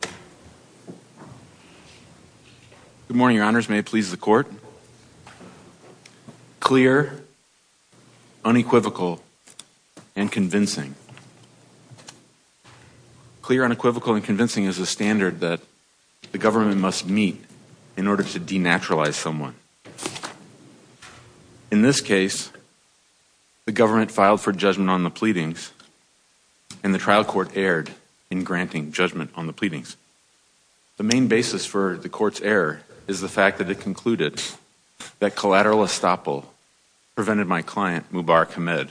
Good morning, your honors. May it please the court. Clear, unequivocal, and convincing. Clear, unequivocal, and convincing is a standard that the government must meet in order to denaturalize someone. In this case, the government filed for judgment on the pleadings and the The main basis for the court's error is the fact that it concluded that collateral estoppel prevented my client, Mubarak Hamed,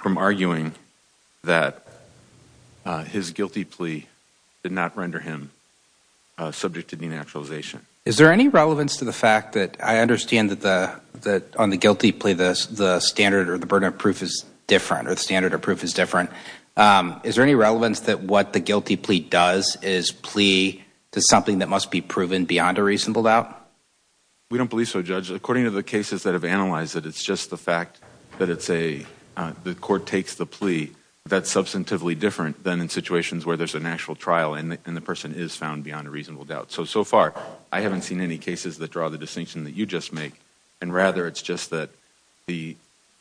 from arguing that his guilty plea did not render him subject to denaturalization. Is there any relevance to the fact that I understand that on the guilty plea the standard or the burden of proof is different, or the standard of proof he does is plea to something that must be proven beyond a reasonable doubt? We don't believe so, Judge. According to the cases that have analyzed it, it's just the fact that the court takes the plea that's substantively different than in situations where there's an actual trial and the person is found beyond a reasonable doubt. So, so far I haven't seen any cases that draw the distinction that you just make, and rather it's just that the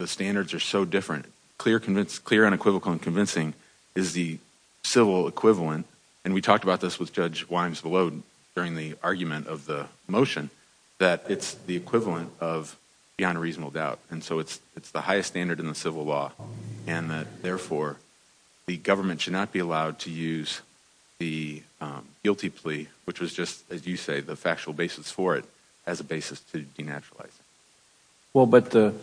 standards are so different. Clear, unequivocal, and convincing is the civil equivalent, and we talked about this with Judge Wimes-Vallone during the argument of the motion, that it's the equivalent of beyond a reasonable doubt. And so it's the highest standard in the civil law, and therefore the government should not be allowed to use the guilty plea, which was just, as you say, the factual basis for it, as a basis to denaturalize it. Well, but the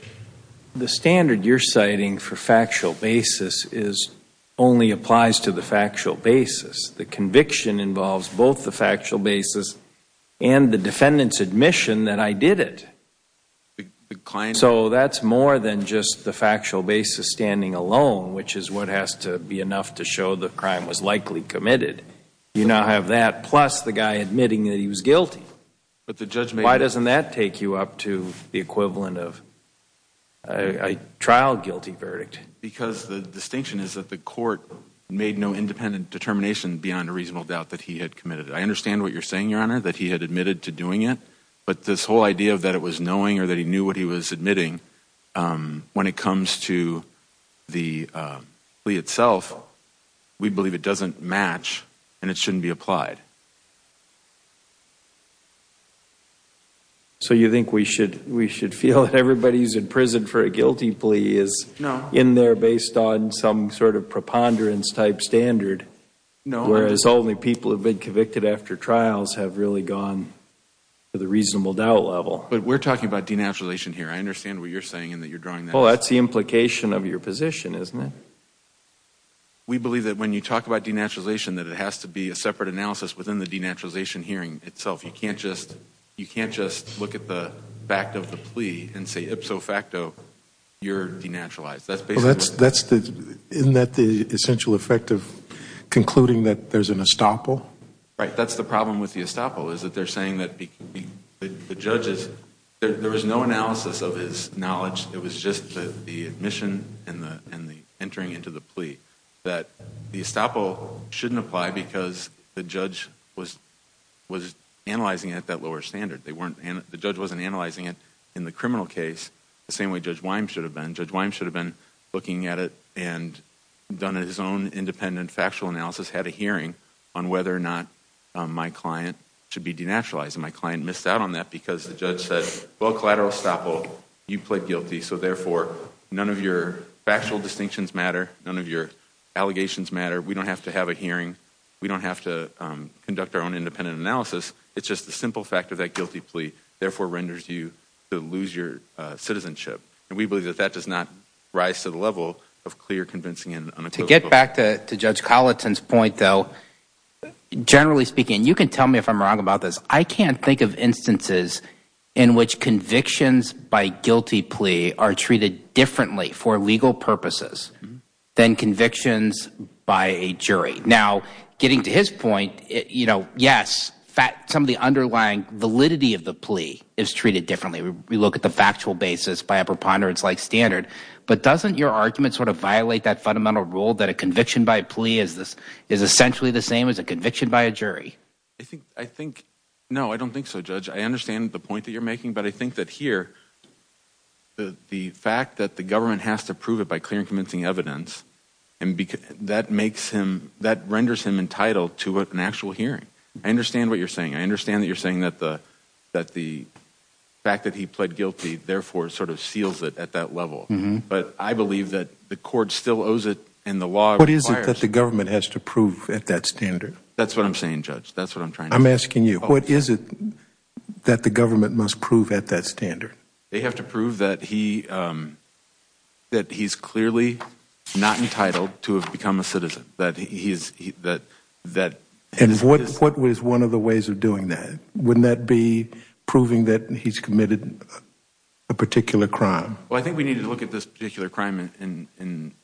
standard you're citing for factual basis is, only applies to the factual basis. The conviction involves both the factual basis and the defendant's admission that I did it. So that's more than just the factual basis standing alone, which is what has to be enough to show the crime was likely committed. You now have that plus the guy admitting that Why doesn't that take you up to the equivalent of a trial guilty verdict? Because the distinction is that the court made no independent determination beyond a reasonable doubt that he had committed it. I understand what you're saying, Your Honor, that he had admitted to doing it, but this whole idea that it was knowing or that he knew what he was admitting, when it comes to the plea itself, we believe it doesn't match and it shouldn't be applied. So you think we should feel that everybody who's in prison for a guilty plea is in there based on some sort of preponderance-type standard, whereas only people who have been convicted after trials have really gone to the reasonable doubt level? But we're talking about denaturalization here. I understand what you're saying in that you're drawing that. Well, that's the implication of your position, isn't it? We believe that when you talk about denaturalization, that it has to be a separate analysis within the denaturalization hearing itself. You can't just look at the fact of the plea and say ipso facto, you're denaturalized. Isn't that the essential effect of concluding that there's an estoppel? Right, that's the problem with the estoppel, is that they're saying that the judge is – there was no analysis of his knowledge. It was just the admission and the entering into the plea that the estoppel shouldn't apply because the judge was analyzing it at that lower standard. The judge wasn't analyzing it in the criminal case the same way Judge Wyme should have been. Judge Wyme should have been looking at it and done his own independent factual analysis, had a hearing on whether or not my client should be denaturalized. And my client missed out on that because the judge said, well, collateral estoppel, you plead guilty, so therefore none of your factual distinctions matter, none of your allegations matter, we don't have to have a hearing, we don't have to conduct our own independent analysis, it's just the simple fact of that guilty plea therefore renders you to lose your citizenship. We believe that that does not rise to the level of clear, convincing, and unaccused – To get back to Judge Colleton's point, though, generally speaking – and you can tell me if I'm wrong about this – I can't think of instances in which convictions by guilty plea are treated differently for legal purposes than convictions by a jury. Now, getting to his point, yes, some of the underlying validity of the plea is treated differently. We look at the factual basis by a preponderance-like standard, but doesn't your argument sort of violate that fundamental rule that a conviction by a plea is essentially the same as a conviction by a jury? I think, no, I don't think so, Judge. I understand the point that you're making, but I think that here, the fact that the government has to prove it by clear and convincing evidence, that renders him entitled to an actual hearing. I understand what you're saying. I understand that you're saying that the fact that he pled guilty therefore sort of seals it at that level. But I believe that the court still owes it and the law requires it. What is it that the government has to prove at that standard? That's what I'm saying, Judge. That's what I'm trying to say. I'm asking you, what is it that the government must prove at that standard? They have to prove that he's clearly not entitled to have become a citizen. And what was one of the ways of doing that? Wouldn't that be proving that he's committed a particular crime? Well, I think we need to look at this particular crime in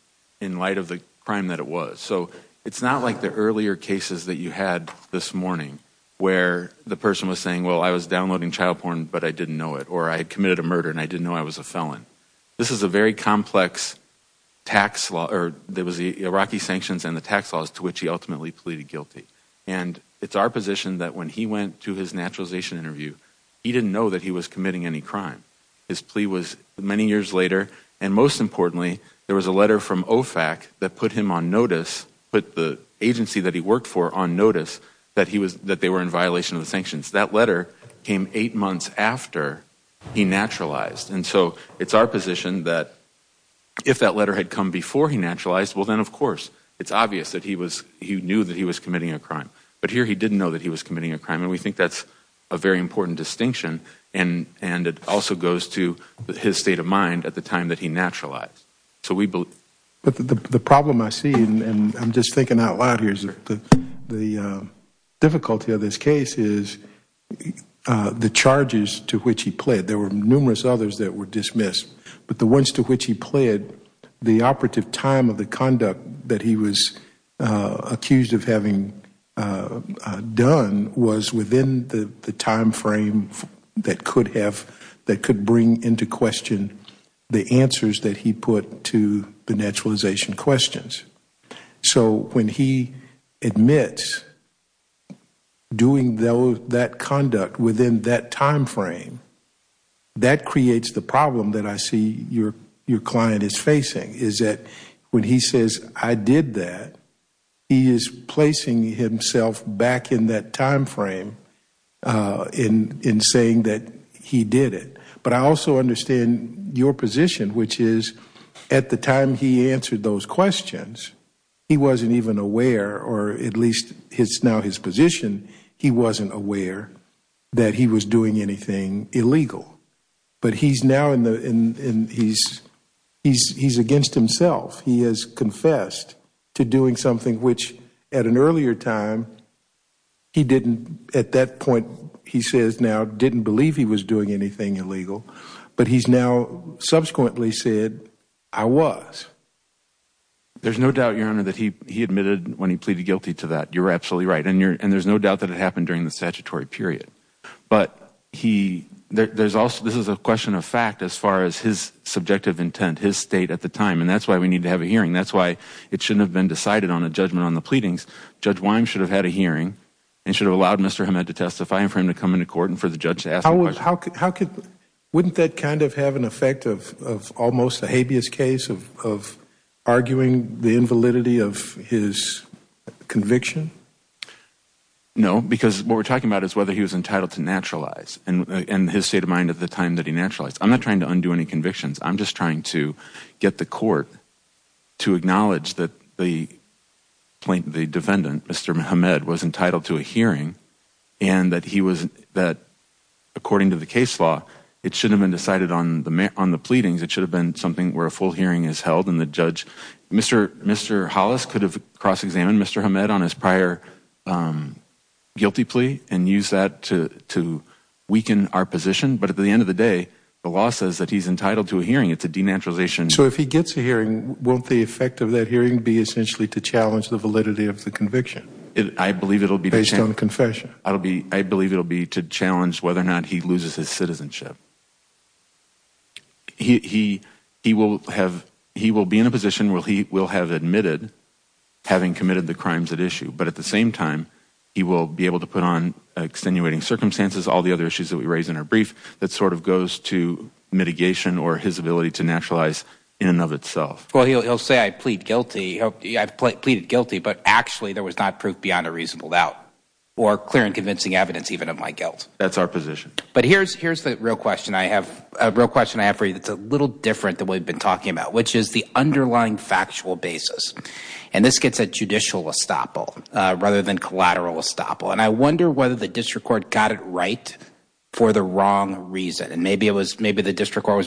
light of the crime that it was. So it's not like the earlier cases that you had this morning, where the person was saying, well, I was downloading child porn, but I didn't know it, or I had committed a murder and I didn't know I was a felon. This is a very complex tax law, or there was the Iraqi sanctions and the tax laws to which he ultimately pleaded guilty. And it's our position that when he went to his naturalization interview, he didn't know that he was committing any crime. His plea was many years later, and most importantly, there was a letter from OFAC that put him on notice, put the agency that he worked for on notice that they were in violation of the sanctions. That letter came eight months after he naturalized. And so it's our position that if that letter had come before he naturalized, well, then, of course, it's obvious that he knew that he was committing a crime. But here he didn't know that he was committing a crime. And we think that's a very important distinction. And it also goes to his state of mind at the time that he naturalized. So we believe But the problem I see, and I'm just thinking out loud here, is that the difficulty of this case is the charges to which he pled. There were numerous others that were dismissed. But the ones to which he pled, the operative time of the conduct that he was accused of having done was within the timeframe that could bring into question the answers that he put to the naturalization questions. So when he admits doing that conduct within that timeframe, that creates the problem that I see your client is facing, is that when he says I did that, he is placing himself back in that timeframe in saying that he did it. But I also understand your position, which is at the time he answered those questions, he wasn't even aware, or at least it's now his position, he wasn't aware that he was doing anything illegal. But he's now in the he's against himself. He has confessed to doing something which at an earlier time he didn't at that point he says now didn't believe he was doing anything illegal. But he's now subsequently said I was. There's no doubt, your honor, that he admitted when he pleaded guilty to that. You're absolutely right. And there's no doubt that it happened during the statutory period. But there's also this is a question of fact as far as his subjective intent, his state at the time. And that's why we need to have a hearing. That's why it shouldn't have been decided on a judgment on the pleadings. Judge Wyme should have had a hearing and should have allowed Mr. Hamed to testify and for him to come into court and for the judge to ask the question. Wouldn't that kind of have an effect of almost a habeas case of arguing the invalidity of his conviction? No, because what we're talking about is whether he was entitled to naturalize and his state of mind at the time that he naturalized. I'm not trying to undo any convictions. I'm just trying to get the court to acknowledge that the defendant, Mr. Hamed, was entitled to a hearing and that he was that, according to the case law, it should have been decided on the on the pleadings. It should have been something where a full hearing is held. And the judge, Mr. Mr. Hollis, could have cross-examined Mr. Hamed on his prior guilty plea and use that to to weaken our position. But at the end of the day, the law says that he's entitled to a hearing. It's a denaturalization. So if he gets a hearing, won't the effect of that hearing be essentially to challenge the validity of the conviction? I believe it'll be based on confession. I'll be I believe it'll be to challenge whether or not he loses his citizenship. He he he will have he will be in a position where he will have admitted having committed the crimes at issue, but at the same time, he will be able to put on extenuating circumstances, all the other issues that we raise in our brief that sort of goes to mitigation or his ability to naturalize in and of itself. Well, he'll say I plead guilty. I've pleaded guilty. But actually, there was not proof beyond a reasonable doubt or clear and convincing evidence even of my guilt. That's our position. But here's here's the real question. I have a real question. I have for you. It's a little different than we've been talking about, which is the underlying factual basis. And this gets a judicial estoppel rather than collateral estoppel. And I wonder whether the district court got it right for the wrong reason. And maybe it was maybe the district court was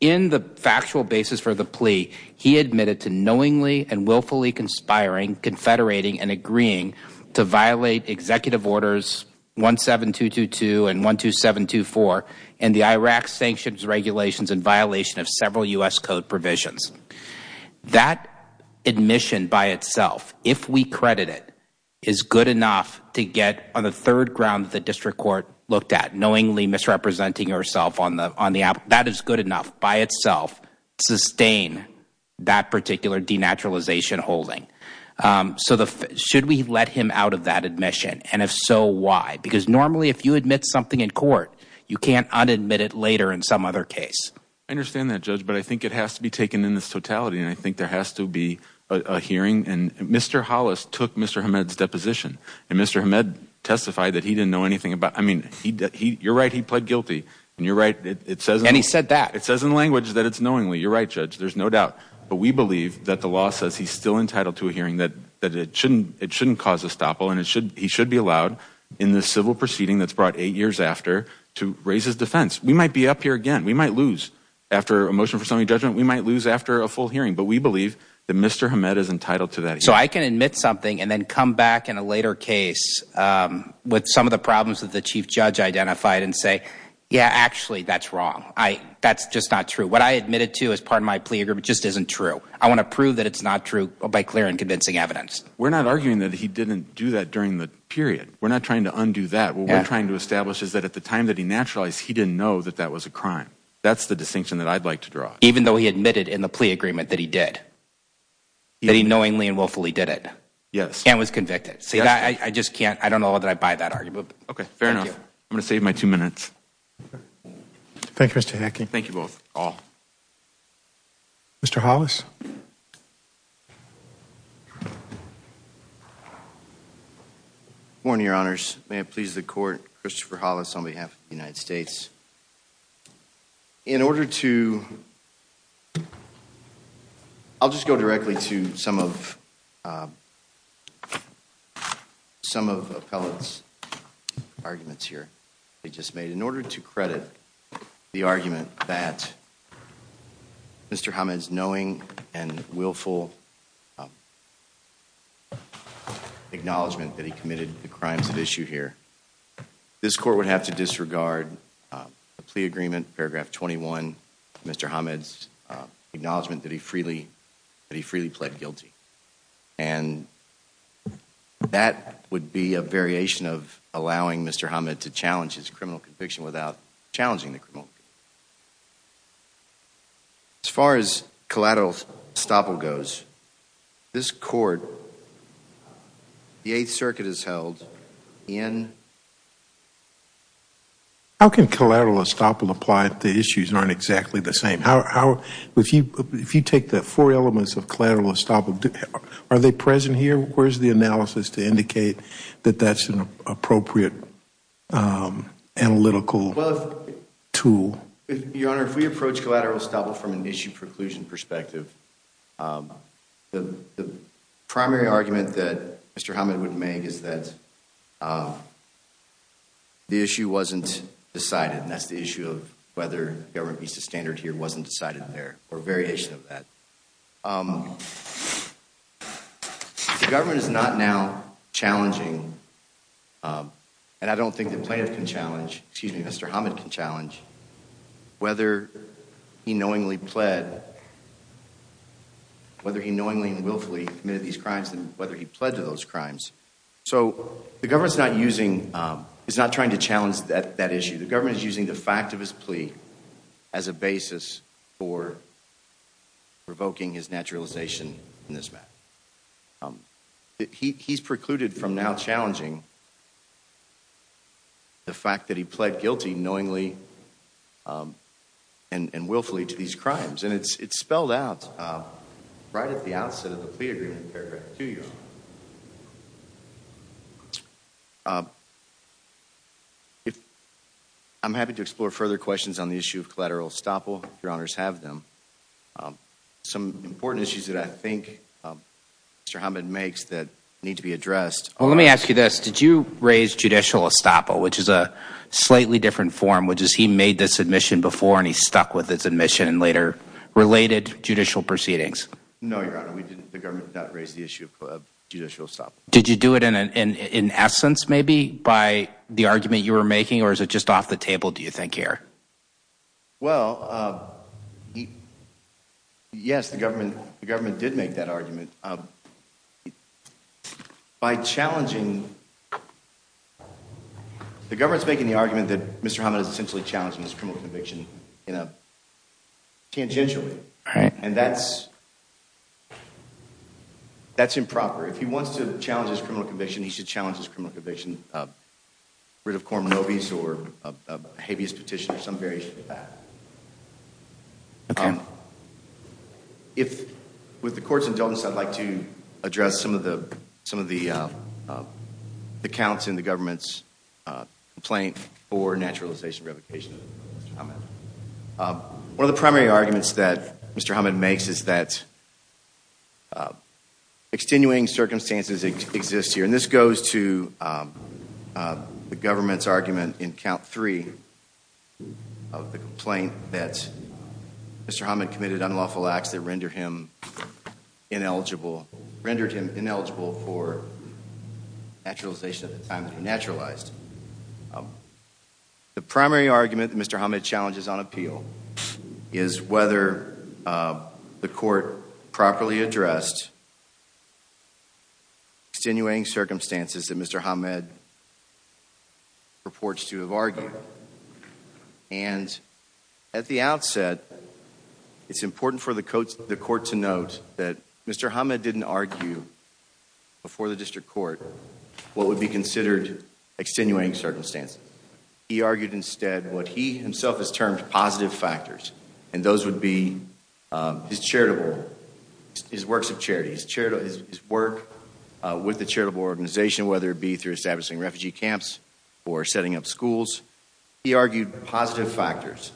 in the factual basis for the plea. He admitted to knowingly and willfully conspiring, confederating and agreeing to violate Executive Orders 17222 and 12724 and the Iraq sanctions regulations in violation of several U.S. Code provisions. That admission by itself, if we credit it, is good enough to get on the third ground. The district court looked at knowingly misrepresenting herself on the on the app. That is good enough by itself. Sustain that particular denaturalization holding. So the should we let him out of that admission? And if so, why? Because normally, if you admit something in court, you can't admit it later in some other case. I understand that, judge. But I think it has to be taken in this totality. And I think there has to be a hearing. And Mr. Hollis took Mr. Ahmed's deposition. And Mr. Ahmed testified that he didn't know anything about I mean, he you're right. He pled guilty. And you're right. It says and he said that it says in language that it's knowingly. You're right, judge. There's no doubt. But we believe that the law says he's still entitled to a hearing that that it shouldn't it shouldn't cause a stop. And it should he should be allowed in the civil proceeding that's brought eight years after to raise his defense. We might be up here again. We might lose after a motion for some judgment. We might lose after a full hearing. But we believe that Mr. Ahmed is entitled to that. So I can admit something and then come back in a later case with some of the problems that the chief judge identified and say, yeah, actually, that's wrong. I that's just not true. What I admitted to as part of my plea agreement just isn't true. I want to prove that it's not true by clear and convincing evidence. We're not arguing that he didn't do that during the period. We're not trying to undo that. We're trying to establish is that at the time that he naturalized, he didn't know that that was a crime. That's the distinction that I'd like to draw, even though he admitted in the plea agreement that he did. He knowingly and willfully did it. Yes. And was convicted. See, I just can't. I don't know that I buy that argument. OK, fair enough. I'm going to save my two minutes. Thank you, Mr. Hacking. Thank you both all. Mr. Hollis. Morning, Your Honor. I'll just go directly to some of. Some of the pellets arguments here they just made in order to credit the argument that. Mr. Hamid's knowing and willful. Acknowledgement that he committed the crimes of issue here. This court would have to disregard the plea agreement. Paragraph 21, Mr. Hamid's acknowledgment that he freely that he freely pled guilty and that would be a variation of allowing Mr. Hamid to challenge his criminal conviction without challenging the criminal. As far as collateral estoppel goes, this court. The issues aren't exactly the same. If you take the four elements of collateral estoppel, are they present here? Where's the analysis to indicate that that's an appropriate analytical tool? Your Honor, if we approach collateral estoppel from an issue preclusion perspective, the primary argument that Mr. Hamid would make is that. The issue wasn't decided, and that's the issue of whether the government meets the standard here wasn't decided there or variation of that. The government is not now challenging. And I don't think the plaintiff can challenge, excuse me, Mr. Hamid can challenge whether he knowingly pled. Whether he knowingly and willfully committed these crimes and whether he pledged to those crimes. So the government's not using, it's not trying to challenge that issue. The government is using the fact of his plea as a basis for revoking his naturalization in this matter. He's precluded from now challenging the fact that he pled guilty knowingly and willfully to these crimes. And it's spelled out right at the outset of the plea agreement paragraph 2, Your Honor. I'm happy to explore further questions on the issue of collateral estoppel if Your Honors have them. Some important issues that I think Mr. Hamid makes that need to be addressed. Well, let me ask you this. Did you raise judicial estoppel, which is a slightly different form, which is he made this admission before and he stuck with his admission and later related judicial proceedings? No, Your Honor. The government did not raise the issue of judicial estoppel. Did you do it in essence maybe by the argument you were making or is it just off the table do you think here? Well, yes, the government did make that argument. By challenging, the government's making the argument that Mr. Hamid is essentially challenging his criminal conviction tangentially. And that's improper. If he wants to challenge his criminal conviction, he should challenge his criminal conviction, writ of coram nobis or habeas petition or some variation of that. If with the court's indulgence, I'd like to address some of the accounts in the government's complaint for naturalization revocation of Mr. Hamid. One of the primary arguments that Mr. Hamid makes is that extenuating circumstances exist here. And this goes to the government's argument in count three of the complaint that Mr. Hamid committed unlawful acts that rendered him ineligible, rendered him ineligible for naturalization at the time that he naturalized. The primary argument that Mr. Hamid challenges on appeal is whether the court properly addressed extenuating circumstances that Mr. Hamid purports to have argued. And at the outset, it's important for the court to note that Mr. Hamid didn't argue before the district court what would be considered extenuating circumstances. He argued instead what he himself has termed positive factors. And those would be his charitable, his works of charity, his work with the charitable organization, whether it be through establishing refugee camps or setting up schools. He argued positive factors.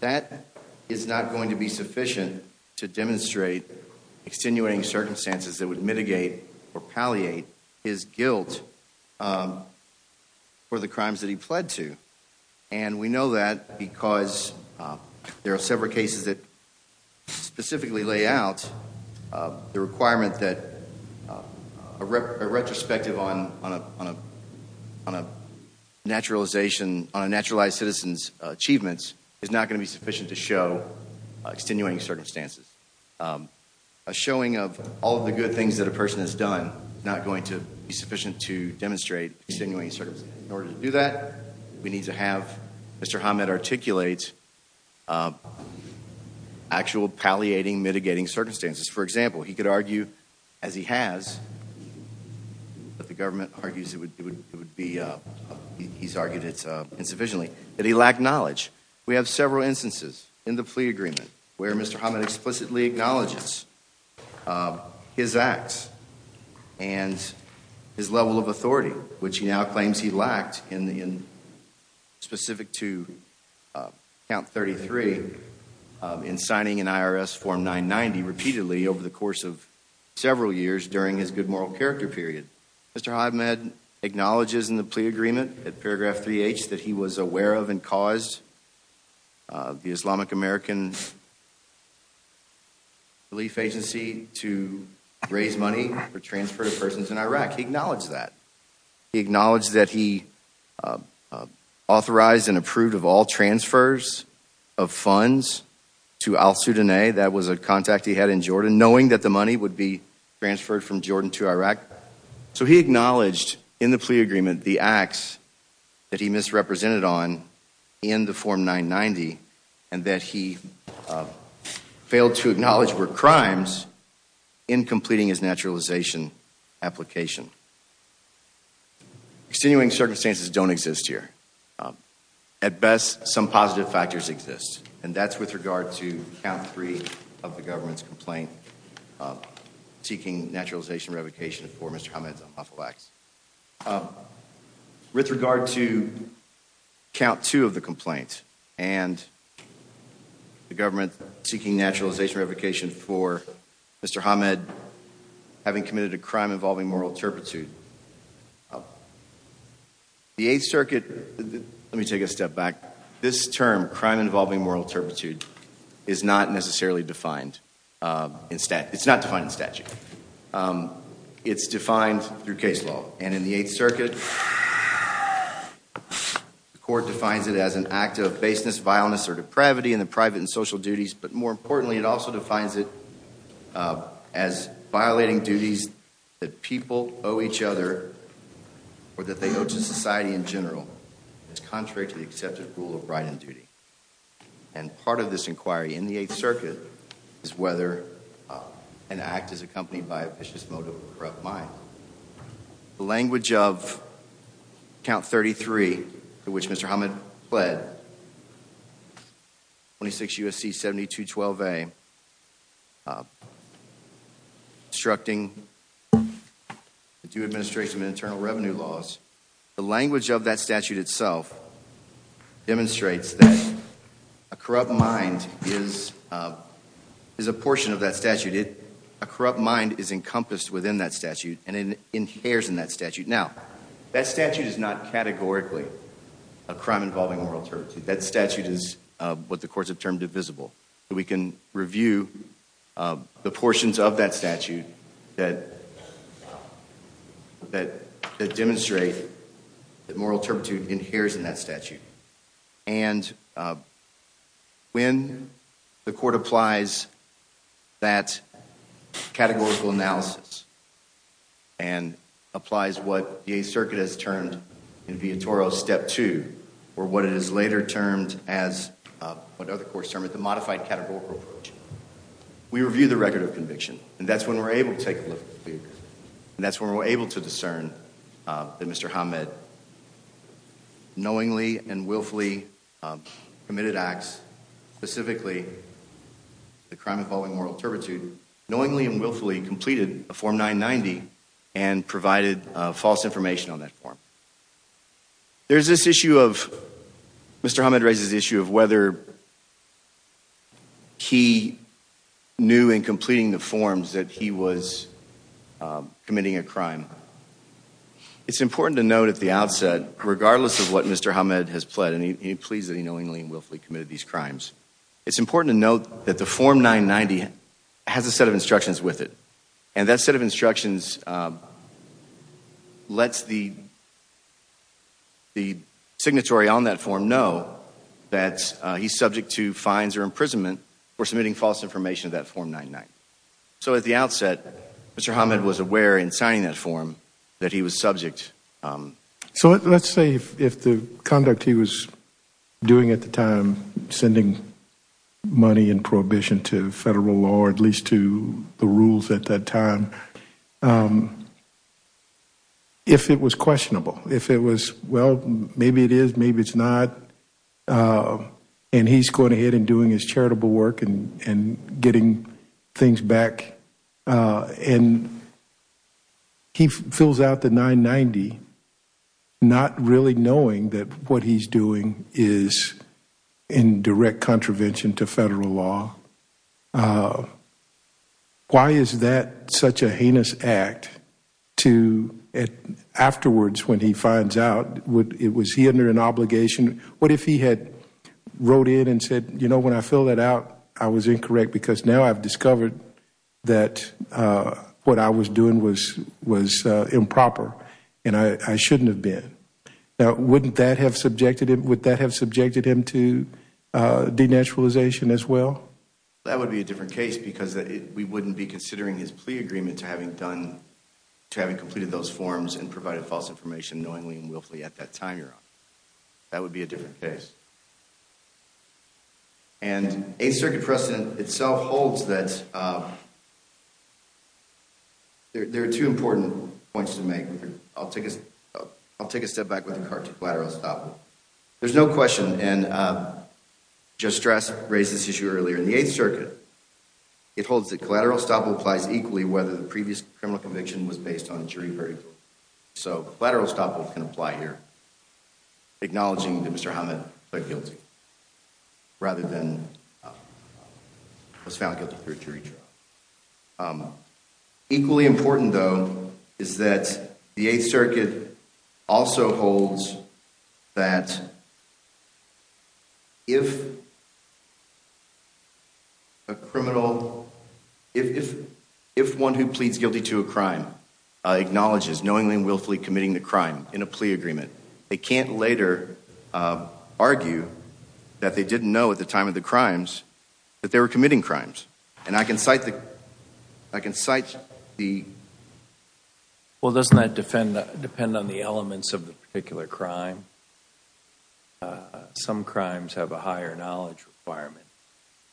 That is not going to be sufficient to demonstrate extenuating circumstances that would mitigate or palliate his guilt for the crimes that he pled to. And we know that because there are several cases that specifically lay out the requirement that a retrospective on a naturalization, on a naturalized citizen's achievements is not going to be sufficient to show extenuating circumstances. A showing of all the good things that a person has done is not going to be sufficient to demonstrate extenuating circumstances. In order to do that, we need to have Mr. Hamid articulate actual palliating, mitigating circumstances. For example, he could argue, as he has, that the government argues it would be, he's argued it's insufficiently, that he lacked knowledge. We have several instances in the plea agreement where Mr. Hamid explicitly acknowledges his acts and his level of authority, which he now claims he lacked in specific to count 33, in signing an IRS form 990 repeatedly over the course of several years during his good moral character period. Mr. Hamid acknowledges in the plea agreement at paragraph 3h that he was aware of and caused the Islamic American Relief Agency to raise money for transfer to persons in Iraq. He acknowledged that. He acknowledged that he authorized and approved of all transfers of funds to al-Sudanay. That was a contact he had in Jordan, knowing that the money would be transferred from Jordan to Iraq. So he acknowledged in the plea agreement the acts that he misrepresented on in the form 990 and that he failed to acknowledge were crimes in completing his naturalization application. Extenuating circumstances don't exist here. At best, some positive factors exist and that's with regard to count 3 of the government's complaint seeking naturalization revocation for Mr. Hamid's unlawful acts. With regard to count 2 of the complaint and the government seeking naturalization revocation for Mr. Hamid having committed a crime involving moral turpitude, the 8th circuit, let me take a step back, this term crime involving moral turpitude is not necessarily defined in statute. It's not defined in statute. It's defined through case law and in the 8th circuit the court defines it as an act of baseness, violence or depravity in the private and social duties but more importantly it also defines it as violating duties that people owe each other or that they owe to society in general as contrary to the accepted rule of right and duty. And part of this inquiry in the 8th circuit is whether an act is accompanied by a vicious motive or a corrupt mind. The language of count 33 to which Mr. Hamid pled 26 U.S.C. 7212a obstructing the due administration of internal revenue laws, the language of that statute itself demonstrates that a corrupt mind is a portion of that statute. A corrupt mind is encompassed within that statute and it inheres in that statute. Now that statute is not categorically a crime involving moral turpitude. That statute is what the courts have termed divisible. We can review the portions of that statute that demonstrate that moral turpitude inheres in that statute and when the court applies that categorical analysis and applies what the 8th circuit has termed in Viatoro step two or what it is later termed as what other courts term it the modified categorical approach. We review the record of conviction and that's when we're able to take and willfully committed acts specifically the crime involving moral turpitude knowingly and willfully completed a form 990 and provided false information on that form. There's this issue of Mr. Hamid raises the issue of whether he knew in completing the forms that he was pleased that he knowingly and willfully committed these crimes. It's important to note that the form 990 has a set of instructions with it and that set of instructions lets the signatory on that form know that he's subject to fines or imprisonment for submitting false information of that form 990. So at the outset, Mr. Hamid was aware in signing that form that he was subject. So let's say if the conduct he was doing at the time, sending money in prohibition to federal law, at least to the rules at that time, if it was questionable, if it was well, maybe it is, maybe it's not, and he's going ahead and doing his charitable work and getting things back. And he fills out the 990 not really knowing that what he's doing is in direct contravention to federal law. Why is that such a heinous act to afterwards when he finds out, was he under an obligation? What if he had wrote in and said, you know, when I filled it out, I was incorrect because now I've discovered that what I was doing was improper and I shouldn't have been. Now, wouldn't that have subjected him, would that have subjected him to denaturalization as well? That would be a different case because we wouldn't be considering his plea agreement to having done, to having completed those forms and provided false information knowingly and willfully at that time. That would be a different case. And 8th Circuit precedent itself holds that there are two important points to make. I'll take a, I'll take a step back with the card to collateral estoppel. There's no question, and Judge Strass raised this issue earlier in the 8th Circuit. It holds that collateral estoppel applies equally whether the previous criminal conviction was based on jury verdict. So collateral estoppel can apply here. Acknowledging that Mr. Hamid pleaded guilty rather than was found guilty through jury trial. Equally important though is that the 8th Circuit also holds that if a criminal, if, if, if one who pleads guilty to a crime acknowledges knowingly and willfully committing the crime in a plea agreement, they can't later argue that they didn't know at the time of the crimes that they were committing crimes. And I can cite the, I can cite the. Well doesn't that defend, depend on the elements of the particular crime? Some crimes have a higher knowledge requirement.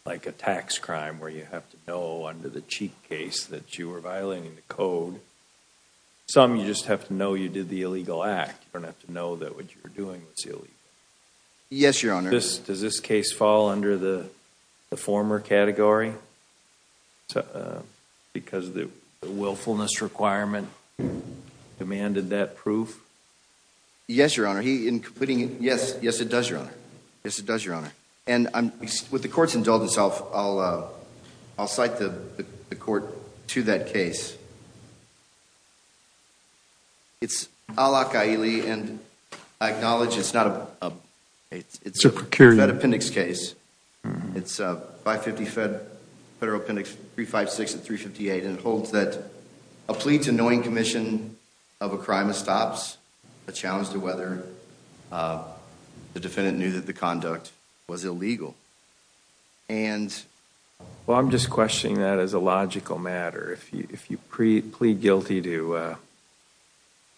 Like a tax crime where you have to know under the cheat case that you were violating the code. Some you just have to know you did the illegal act. You don't have to know that what you were doing was illegal. Yes, Your Honor. Does this case fall under the former category? Because the willfulness requirement demanded that proof? Yes, Your Honor. He, in completing, yes, yes it does, Your Honor. Yes it does, Your Honor. And I'm, with the court's indulgence, I'll, I'll cite the court to that case. It's al-Aqa'ili and I acknowledge it's not a, it's a FedAppendix case. It's a 550 Fed, Federal Appendix 356 and 358 and it holds that a plea to knowing commission of a crime is stops, a challenge to whether the defendant knew that the conduct was illegal and. Well I'm just questioning that as a logical matter. If you, if you plead guilty to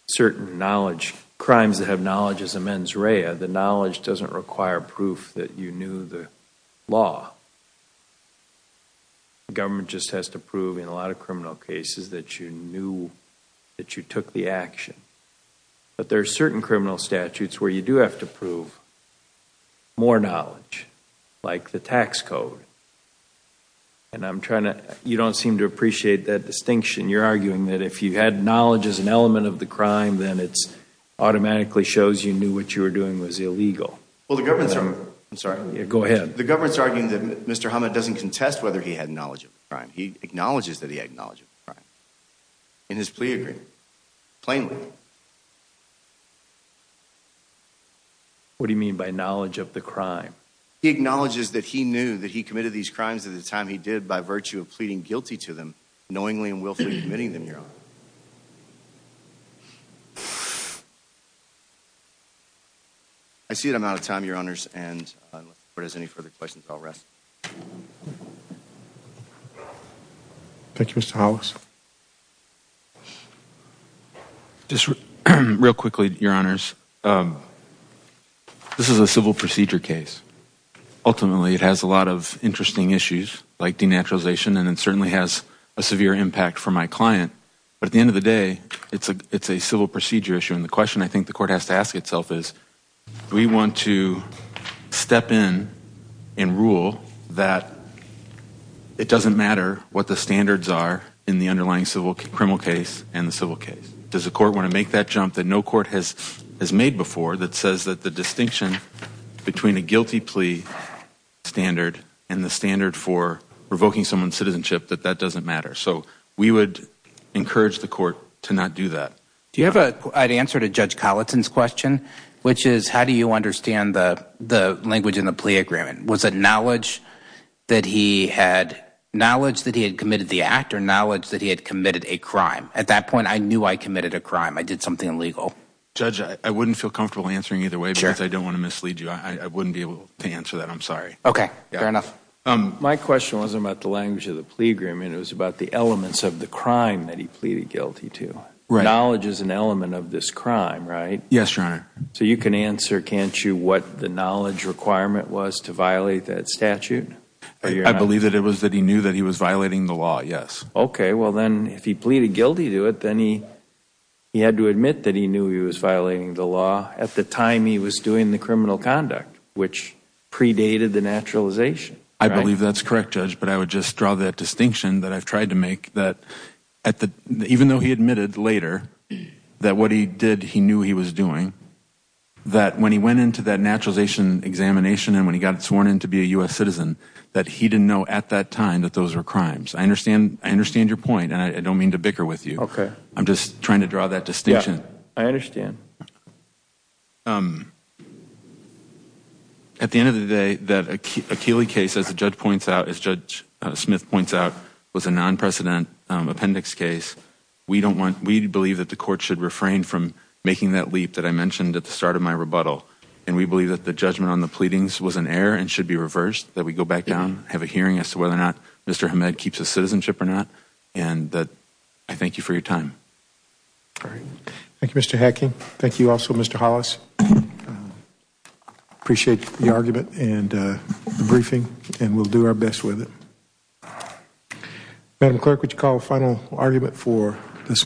certain knowledge, crimes that have knowledge as a mens rea, the knowledge doesn't require proof that you knew the law. The government just has to prove in a lot of criminal cases that you knew that you took the action. But there are certain criminal statutes where you do have to prove more knowledge, like the tax code. And I'm trying to, you don't seem to appreciate that distinction. You're arguing that if you had knowledge as an element of the crime, then it's automatically shows you knew what you were doing was illegal. Well the government's, I'm sorry. Go ahead. The government's arguing that Mr. Hammad doesn't contest whether he had knowledge of the crime. He acknowledges that he had knowledge of the crime in his plea agreement, plainly. What do you mean by knowledge of the crime? He acknowledges that he knew that he committed these crimes at the time he did by virtue of pleading guilty to them, knowingly and willfully committing them, your honor. I see that I'm out of time, your honors, and unless the court has any further questions, I'll rest. Thank you, Mr. Hollis. Just real quickly, your honors, this is a civil procedure case. Ultimately, it has a lot of interesting issues, like denaturalization, and it certainly has a severe impact for my client. But at the end of the day, it's a, it's a civil procedure issue. And the question I think the the standards are in the underlying civil criminal case and the civil case. Does the court want to make that jump that no court has has made before that says that the distinction between a guilty plea standard and the standard for revoking someone's citizenship, that that doesn't matter? So we would encourage the court to not do that. Do you have a, I'd answer to Judge Collinson's question, which is how do you understand the the language in the plea agreement? Was it knowledge that he had knowledge that he had committed the act or knowledge that he had committed a crime? At that point, I knew I committed a crime. I did something illegal. Judge, I wouldn't feel comfortable answering either way, because I don't want to mislead you. I wouldn't be able to answer that. I'm sorry. Okay, fair enough. My question wasn't about the language of the plea agreement. It was about the elements of the crime that he pleaded guilty to. Knowledge is an element of this crime, right? Yes, your honor. So you can answer, can't you, what the knowledge requirement was to violate that statute? I believe that it was that he knew that he was violating the law, yes. Okay, well then if he pleaded guilty to it, then he had to admit that he knew he was violating the law at the time he was doing the criminal conduct, which predated the naturalization. I believe that's correct, Judge, but I would just draw that distinction that I've tried to make, that even though he admitted later that what he did, he knew he was doing, that when he went into that naturalization examination and when he got sworn in to be a U.S. citizen, that he didn't know at that time that those were crimes. I understand your point, and I don't mean to bicker with you. Okay. I'm just trying to draw that distinction. I understand. At the end of the day, that Achilles case, as the judge points out, as Judge Appendix case, we believe that the court should refrain from making that leap that I mentioned at the start of my rebuttal, and we believe that the judgment on the pleadings was an error and should be reversed, that we go back down, have a hearing as to whether or not Mr. Hamed keeps his citizenship or not, and I thank you for your time. All right. Thank you, Mr. Hacking. Thank you also, Mr. Hollis. I appreciate the argument and the briefing, and we'll do our best with it. Thank you. Madam Clerk, would you call a final argument for this?